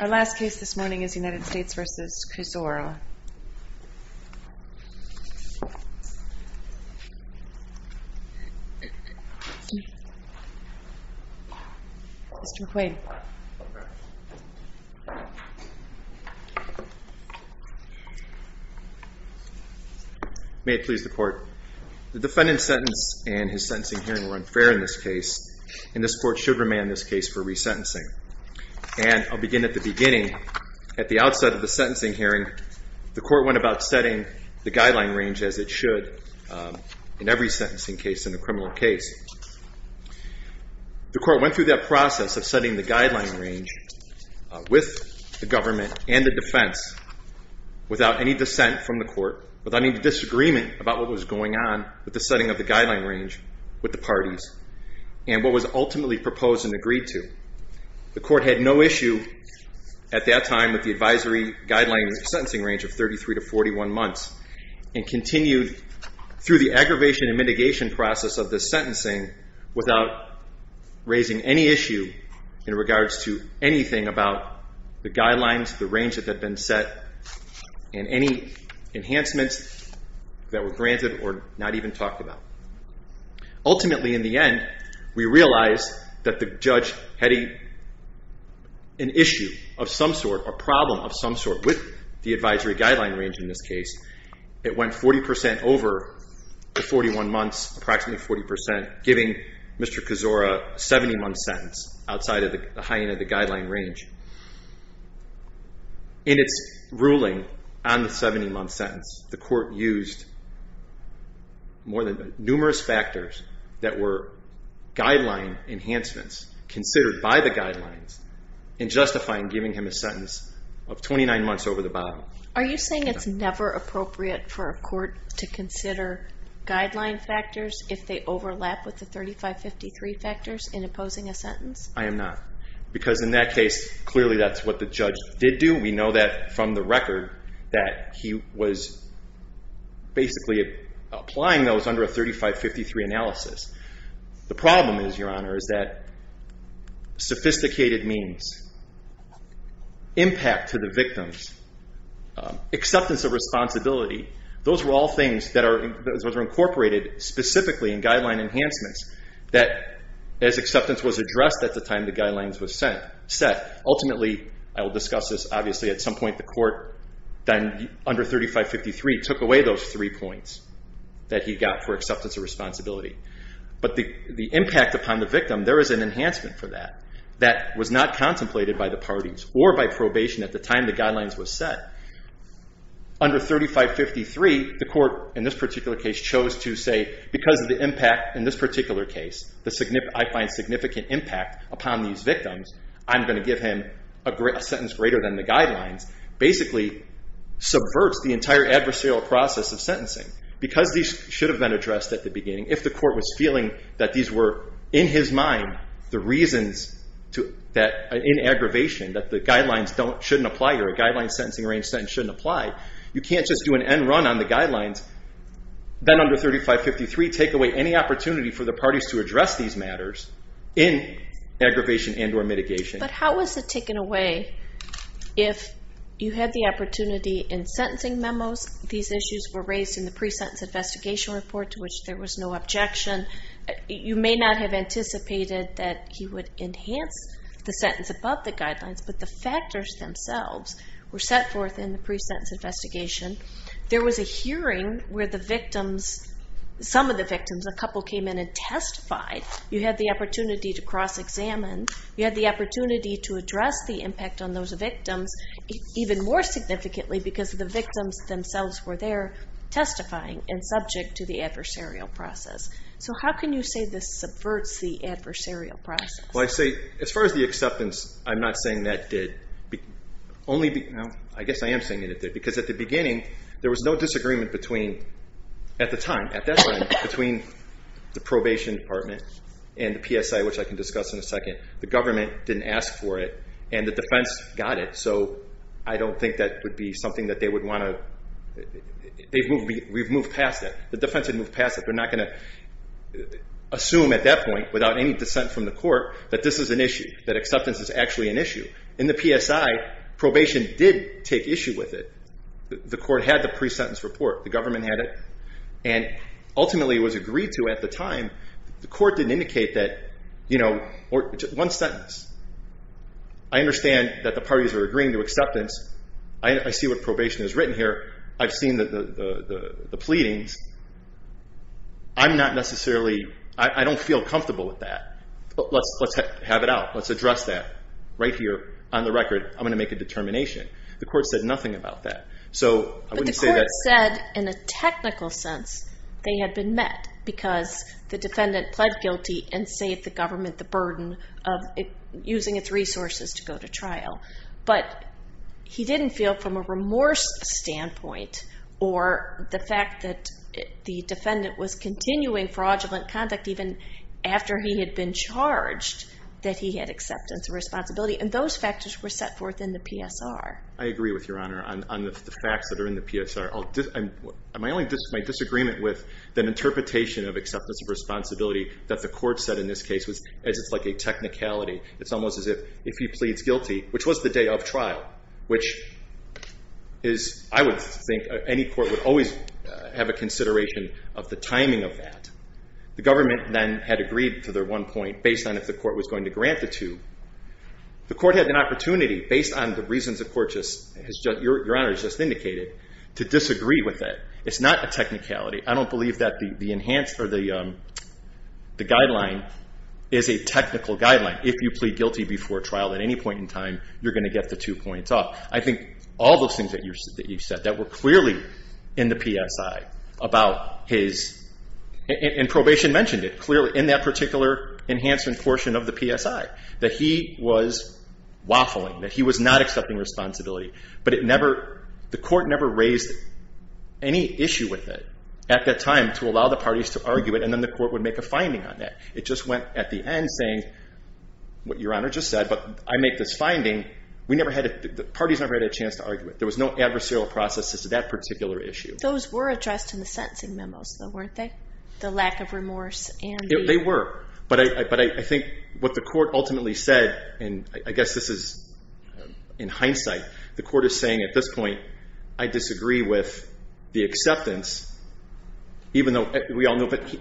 Our last case this morning is United States v. Kuczora. Mr. McQuaid. The defendant's sentence and his sentencing hearing were unfair in this case, and this court should remain in this case for resentencing. And I'll begin at the beginning. At the outset of the sentencing hearing, the court went about setting the guideline range as it should in every sentencing case in a criminal case. The court went through that process of setting the guideline range with the government and the defense without any dissent from the court, without any disagreement about what was going on with the setting of the guideline range with the parties and what was ultimately proposed and agreed to. The court had no issue at that time with the advisory guideline sentencing range of 33 to 41 months, and continued through the aggravation and mitigation process of the sentencing without raising any issue in regards to anything about the guidelines, the range that had been set, and any enhancements that were granted or not even talked about. Ultimately, in the end, we realized that the judge had an issue of some sort, a problem of some sort with the advisory guideline range in this case. It went 40% over the 41 months, approximately 40%, giving Mr. Kuczora a 70-month sentence outside of the high end of the guideline range. In its ruling on the 70-month sentence, the court used numerous factors that were guideline enhancements, considered by the guidelines, in justifying giving him a sentence of 29 months over the bottom. Are you saying it's never appropriate for a court to consider guideline factors if they overlap with the 35-53 factors in opposing a sentence? I am not, because in that case, clearly that's what the judge did do. We know that from the record that he was basically applying those under a 35-53 analysis. The problem is, Your Honor, is that sophisticated means, impact to the victims, acceptance of responsibility, those were all things that were incorporated specifically in guideline enhancements that, as acceptance was addressed at the time the guidelines were set. Ultimately, I will discuss this, obviously, at some point the court, under 35-53, took away those three points that he got for acceptance of responsibility. But the impact upon the victim, there is an enhancement for that, that was not contemplated by the parties or by probation at the time the guidelines were set. Under 35-53, the court, in this particular case, chose to say, because of the impact in this particular case, I find significant impact upon these victims, I'm going to give him a sentence greater than the guidelines, basically subverts the entire adversarial process of sentencing. Because these should have been addressed at the beginning, if the court was feeling that these were, in his mind, the reasons that, in aggravation, that the guidelines shouldn't apply, or a guideline sentencing range sentence shouldn't apply, you can't just do an end run on the guidelines, then under 35-53, take away any opportunity for the parties to address these matters in aggravation and or mitigation. But how was it taken away if you had the opportunity in sentencing memos, these issues were raised in the pre-sentence investigation report to which there was no objection, you may not have anticipated that he would enhance the sentence above the guidelines, but the factors themselves were set forth in the pre-sentence investigation. There was a hearing where the victims, some of the victims, a couple came in and testified, you had the opportunity to cross-examine, you had the opportunity to address the impact on those victims, even more significantly because the victims themselves were there testifying and subject to the adversarial process. So how can you say this subverts the adversarial process? Well, I'd say, as far as the acceptance, I'm not saying that did. I guess I am saying it did, because at the beginning, there was no disagreement between, at the time, at that time, between the probation department and the PSI, which I can discuss in a second. The government didn't ask for it, and the defense got it, so I don't think that would be something that they would want to, we've moved past that. The defense had moved past that. They're not going to assume at that point, without any dissent from the court, that this is an issue, that acceptance is actually an issue. In the PSI, probation did take issue with it. The court had the pre-sentence report. The government had it, and ultimately it was agreed to at the time. The court didn't indicate that, you know, one sentence. I understand that the parties are agreeing to acceptance. I see what probation has written here. I've seen the pleadings. I'm not necessarily, I don't feel comfortable with that. Let's have it out. Let's address that right here on the record. I'm going to make a determination. The court said nothing about that, so I wouldn't say that. But the court said, in a technical sense, they had been met, because the defendant pled guilty and saved the government the burden of using its resources to go to trial. But he didn't feel, from a remorse standpoint, or the fact that the defendant was continuing fraudulent conduct, even after he had been charged, that he had acceptance of responsibility. And those factors were set forth in the PSR. I agree with Your Honor on the facts that are in the PSR. My only disagreement with the interpretation of acceptance of responsibility that the court said in this case, as it's like a technicality, it's almost as if he pleads guilty, which was the day of trial, which is, I would think, any court would always have a consideration of the timing of that. The government then had agreed to their one point, based on if the court was going to grant the two. The court had an opportunity, based on the reasons the court just, Your Honor, just indicated, to disagree with it. It's not a technicality. I don't believe that the enhanced or the guideline is a technical guideline. If you plead guilty before trial at any point in time, you're going to get the two points off. I think all those things that you've said that were clearly in the PSI about his, and probation mentioned it clearly in that particular enhancement portion of the PSI, that he was waffling, that he was not accepting responsibility. But the court never raised any issue with it at that time to allow the parties to argue it, and then the court would make a finding on that. It just went at the end saying what Your Honor just said, but I make this finding. We never had a, the parties never had a chance to argue it. There was no adversarial process as to that particular issue. Those were addressed in the sentencing memos, though, weren't they? The lack of remorse and the... They were. But I think what the court ultimately said, and I guess this is in hindsight, the court is saying at this point, I disagree with the acceptance, even though we all know, but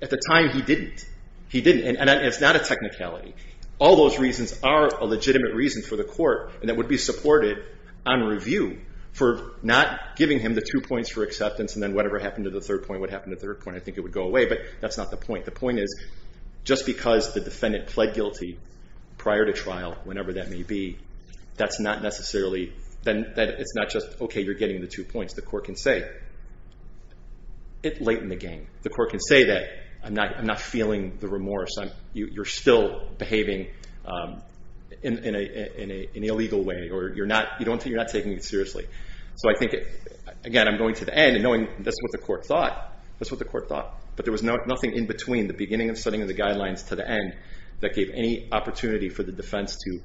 at the time he didn't. He didn't, and it's not a technicality. All those reasons are a legitimate reason for the court, and that would be supported on review for not giving him the two points for acceptance, and then whatever happened to the third point would happen to the third point. I think it would go away, but that's not the point. The point is just because the defendant pled guilty prior to trial, whenever that may be, that's not necessarily, it's not just, okay, you're getting the two points. The court can say, it lightened the game. The court can say that I'm not feeling the remorse. You're still behaving in an illegal way, or you're not taking it seriously. So I think, again, I'm going to the end and knowing that's what the court thought. That's what the court thought, but there was nothing in between the beginning and setting of the guidelines to the end that gave any opportunity for the defense to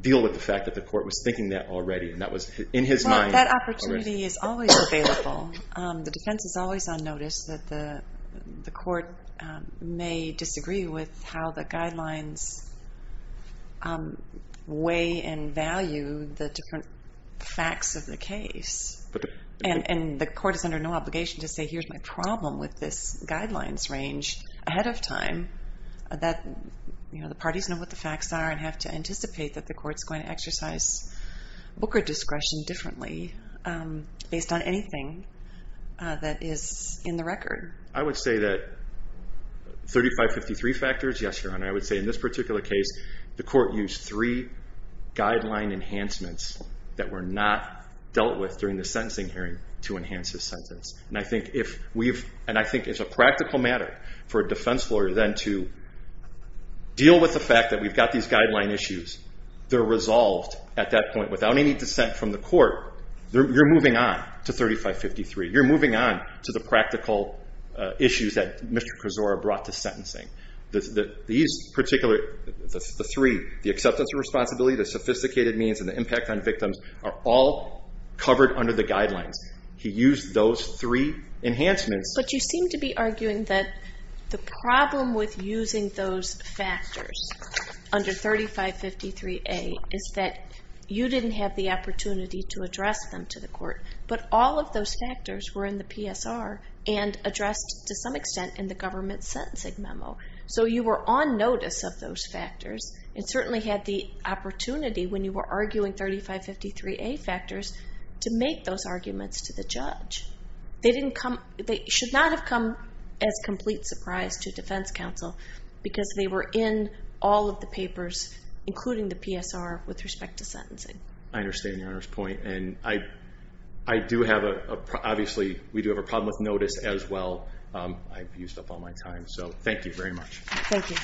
deal with the fact that the court was thinking that already, and that was in his mind. That opportunity is always available. The defense is always on notice that the court may disagree with how the guidelines weigh and value the different facts of the case, and the court is under no obligation to say, here's my problem with this guidelines range ahead of time, that the parties know what the facts are and have to anticipate that the court's going to exercise Booker discretion differently based on anything that is in the record. I would say that 3553 factors, yes, Your Honor. I would say in this particular case, the court used three guideline enhancements that were not dealt with during the sentencing hearing to enhance his sentence, and I think it's a practical matter for a defense lawyer then to deal with the fact that we've got these guideline issues. They're resolved at that point without any dissent from the court. You're moving on to 3553. You're moving on to the practical issues that Mr. Krizora brought to sentencing. These particular, the three, the acceptance of responsibility, the sophisticated means, and the impact on victims are all covered under the guidelines. He used those three enhancements. But you seem to be arguing that the problem with using those factors under 3553A is that you didn't have the opportunity to address them to the court, but all of those factors were in the PSR and addressed to some extent in the government sentencing memo. So you were on notice of those factors and certainly had the opportunity when you were arguing 3553A factors to make those arguments to the judge. They should not have come as a complete surprise to defense counsel because they were in all of the papers, including the PSR, with respect to sentencing. I understand Your Honor's point, and I do have a, obviously, we do have a problem with notice as well. I've used up all my time, so thank you very much. Thank you.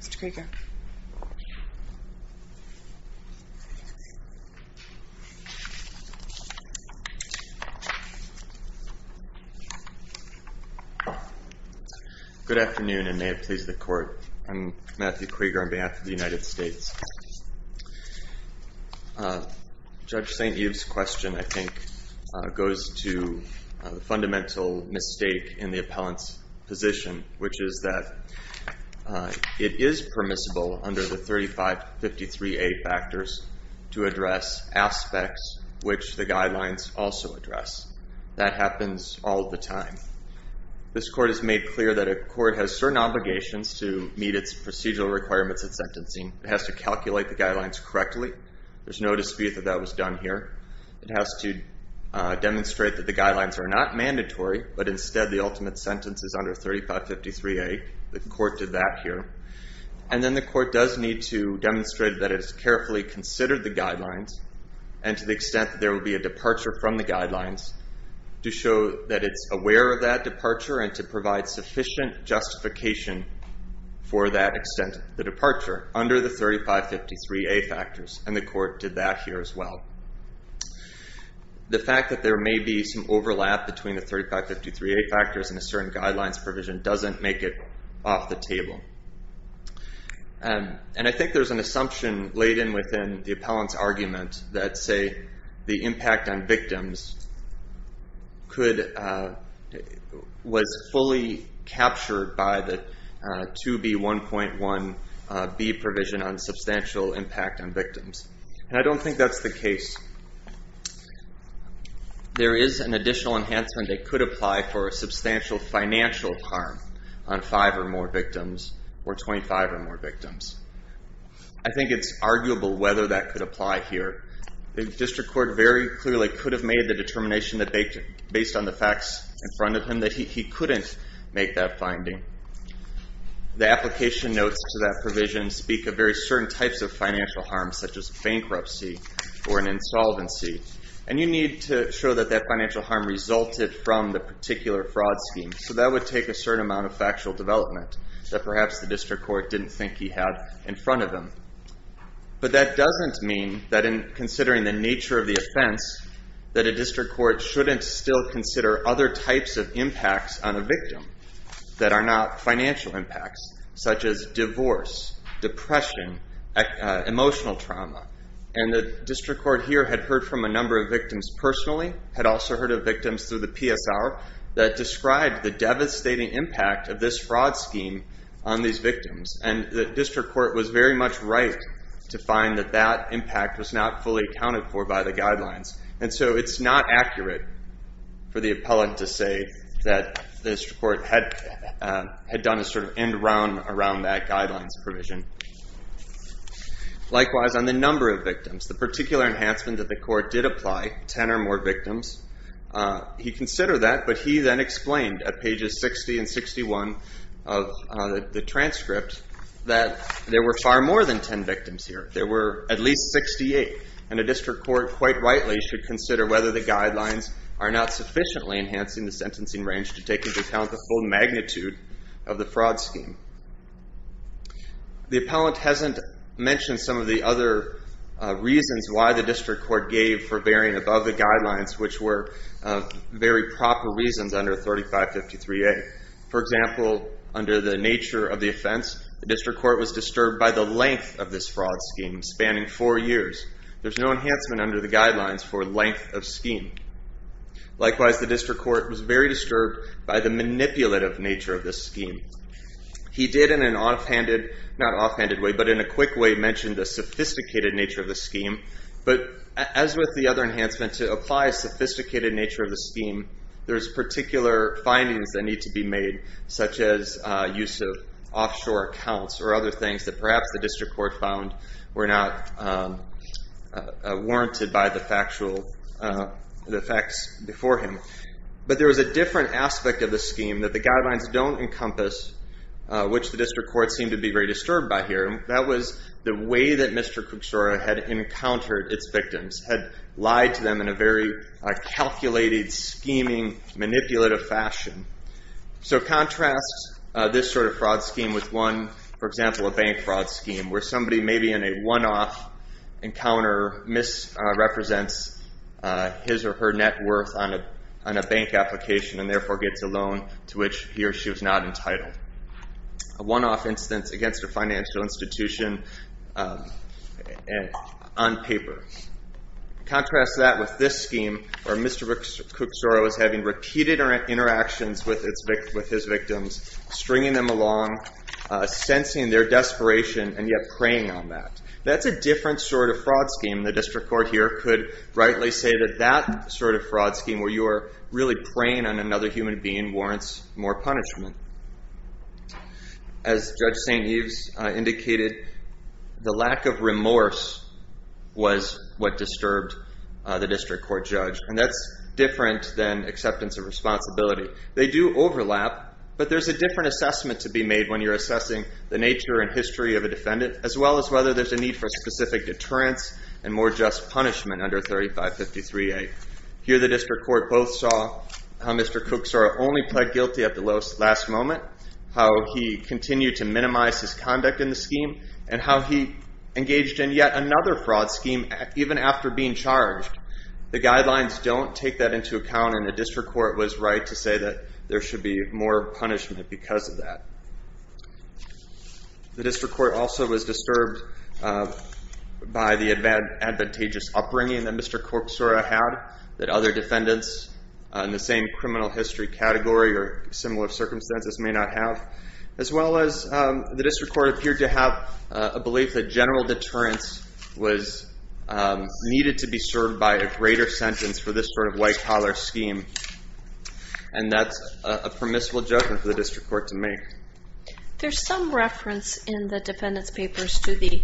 Mr. Krieger. Good afternoon, and may it please the Court. I'm Matthew Krieger on behalf of the United States. Judge St. Yves' question, I think, goes to the fundamental mistake in the appellant's position, which is that it is permissible under the 3553A factors to address aspects which the guidelines also address. That happens all the time. This Court has made clear that a court has certain obligations to meet its procedural requirements of sentencing. It has to calculate the guidelines correctly. There's no dispute that that was done here. It has to demonstrate that the guidelines are not mandatory, but instead the ultimate sentence is under 3553A. The Court did that here. And then the Court does need to demonstrate that it has carefully considered the guidelines and to the extent that there will be a departure from the guidelines to show that it's aware of that departure and to provide sufficient justification for that extent of the departure under the 3553A factors, and the Court did that here as well. The fact that there may be some overlap between the 3553A factors and a certain guidelines provision doesn't make it off the table. And I think there's an assumption laid in within the appellant's argument that, say, the impact on victims was fully captured by the 2B1.1B provision on substantial impact on victims. There is an additional enhancement that could apply for a substantial financial harm on 5 or more victims or 25 or more victims. I think it's arguable whether that could apply here. The District Court very clearly could have made the determination based on the facts in front of him that he couldn't make that finding. The application notes to that provision speak of very certain types of financial harm, such as bankruptcy or an insolvency, and you need to show that that financial harm resulted from the particular fraud scheme. So that would take a certain amount of factual development that perhaps the District Court didn't think he had in front of him. But that doesn't mean that in considering the nature of the offense that a District Court shouldn't still consider other types of impacts on a victim that are not financial impacts, such as divorce, depression, emotional trauma. And the District Court here had heard from a number of victims personally, had also heard of victims through the PSR, that described the devastating impact of this fraud scheme on these victims. And the District Court was very much right to find that that impact was not fully accounted for by the guidelines. And so it's not accurate for the appellant to say that the District Court had done a sort of end-round around that guidelines provision. Likewise, on the number of victims, the particular enhancement that the court did apply, 10 or more victims, he considered that, but he then explained at pages 60 and 61 of the transcript that there were far more than 10 victims here. There were at least 68. And the District Court quite rightly should consider whether the guidelines are not sufficiently enhancing the sentencing range to take into account the full magnitude of the fraud scheme. The appellant hasn't mentioned some of the other reasons why the District Court gave for bearing above the guidelines, which were very proper reasons under 3553A. For example, under the nature of the offense, the District Court was disturbed by the length of this fraud scheme, spanning four years. There's no enhancement under the guidelines for length of scheme. Likewise, the District Court was very disturbed by the manipulative nature of this scheme. He did in an offhanded, not offhanded way, but in a quick way, mention the sophisticated nature of the scheme. But as with the other enhancements, to apply a sophisticated nature of the scheme, there's particular findings that need to be made, such as use of offshore accounts, or other things that perhaps the District Court found were not warranted by the facts before him. But there was a different aspect of the scheme that the guidelines don't encompass, which the District Court seemed to be very disturbed by here. That was the way that Mr. Cucsora had encountered its victims, had lied to them in a very calculated, scheming, manipulative fashion. So contrast this sort of fraud scheme with one, for example, a bank fraud scheme, where somebody maybe in a one-off encounter misrepresents his or her net worth on a bank application and therefore gets a loan to which he or she was not entitled. A one-off instance against a financial institution on paper. Contrast that with this scheme, where Mr. Cucsora was having repeated interactions with his victims, stringing them along, sensing their desperation, and yet preying on that. That's a different sort of fraud scheme. The District Court here could rightly say that that sort of fraud scheme, where you are really preying on another human being, warrants more punishment. As Judge St. Eves indicated, the lack of remorse was what disturbed the District Court judge. And that's different than acceptance of responsibility. They do overlap, but there's a different assessment to be made when you're assessing the nature and history of a defendant, as well as whether there's a need for specific deterrence and more just punishment under 3553A. Here the District Court both saw how Mr. Cucsora only pled guilty at the last moment, how he continued to minimize his conduct in the scheme, and how he engaged in yet another fraud scheme even after being charged. The guidelines don't take that into account, and the District Court was right to say that there should be more punishment because of that. The District Court also was disturbed by the advantageous upbringing that Mr. Cucsora had, that other defendants in the same criminal history category or similar circumstances may not have, as well as the District Court appeared to have a belief that general deterrence was needed to be served by a greater sentence for this sort of white-collar scheme. And that's a permissible judgment for the District Court to make. There's some reference in the defendant's papers to the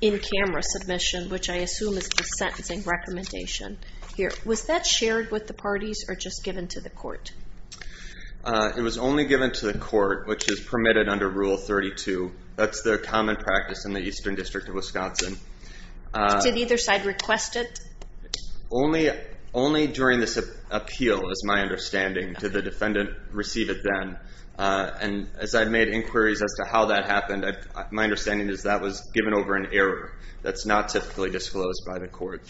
in-camera submission, which I assume is the sentencing recommendation here. Was that shared with the parties or just given to the court? It was only given to the court, which is permitted under Rule 32. That's the common practice in the Eastern District of Wisconsin. Did either side request it? Only during this appeal is my understanding. Did the defendant receive it then? And as I've made inquiries as to how that happened, my understanding is that was given over in error. That's not typically disclosed by the court.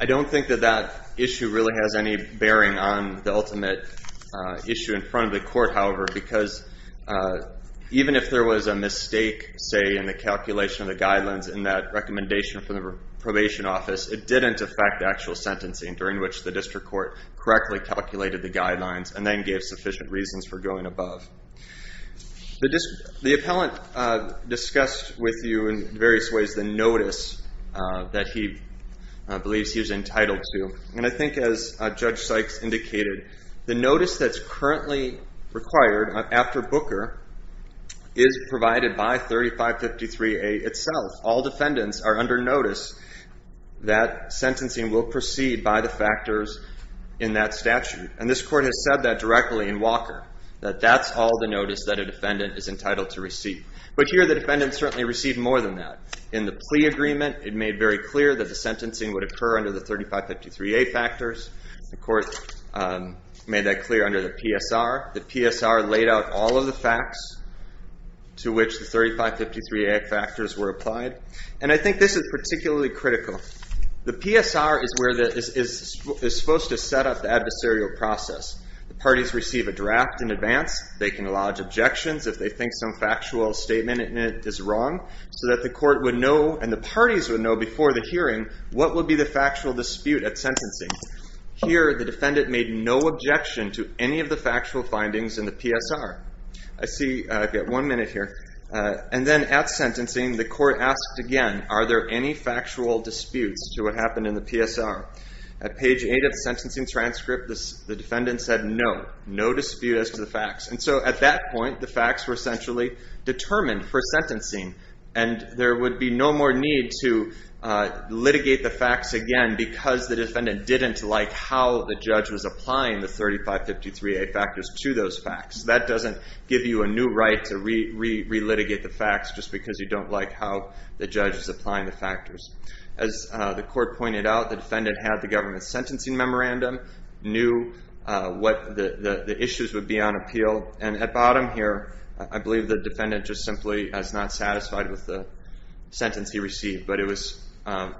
I don't think that that issue really has any bearing on the ultimate issue in front of the court, however, because even if there was a mistake, say, in the calculation of the guidelines in that recommendation from the probation office, it didn't affect the actual sentencing during which the District Court correctly calculated the guidelines and then gave sufficient reasons for going above. The appellant discussed with you in various ways the notice that he believes he's entitled to, and I think as Judge Sykes indicated, the notice that's currently required after Booker is provided by 3553A itself. All defendants are under notice that sentencing will proceed by the factors in that statute, and this court has said that directly in Walker, that that's all the notice that a defendant is entitled to receive. But here the defendant certainly received more than that. In the plea agreement, it made very clear that the sentencing would occur under the 3553A factors. The court made that clear under the PSR. The PSR laid out all of the facts to which the 3553A factors were applied, and I think this is particularly critical. The PSR is supposed to set up the adversarial process. The parties receive a draft in advance. They can lodge objections if they think some factual statement in it is wrong, so that the court would know and the parties would know before the hearing what would be the factual dispute at sentencing. Here the defendant made no objection to any of the factual findings in the PSR. I see I've got one minute here. And then at sentencing, the court asked again, are there any factual disputes to what happened in the PSR? At page 8 of the sentencing transcript, the defendant said no, no dispute as to the facts. And so at that point, the facts were essentially determined for sentencing, and there would be no more need to litigate the facts again because the defendant didn't like how the judge was applying the 3553A factors to those facts. That doesn't give you a new right to re-litigate the facts just because you don't like how the judge is applying the factors. As the court pointed out, the defendant had the government sentencing memorandum, knew what the issues would be on appeal. And at bottom here, I believe the defendant just simply is not satisfied with the sentence he received, but it was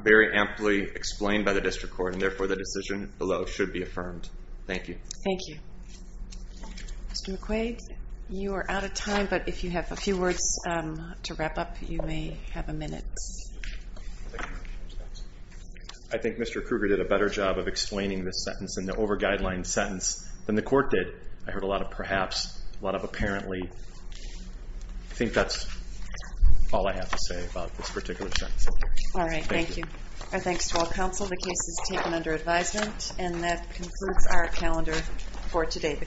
very amply explained by the district court, and therefore the decision below should be affirmed. Thank you. Thank you. Mr. McQuaid, you are out of time, but if you have a few words to wrap up, you may have a minute. I think Mr. Kruger did a better job of explaining this sentence, and the over-guideline sentence, than the court did. I heard a lot of perhaps, a lot of apparently. I think that's all I have to say about this particular sentence. All right. Thank you. Our thanks to all counsel. The case is taken under advisement, and that concludes our calendar for today.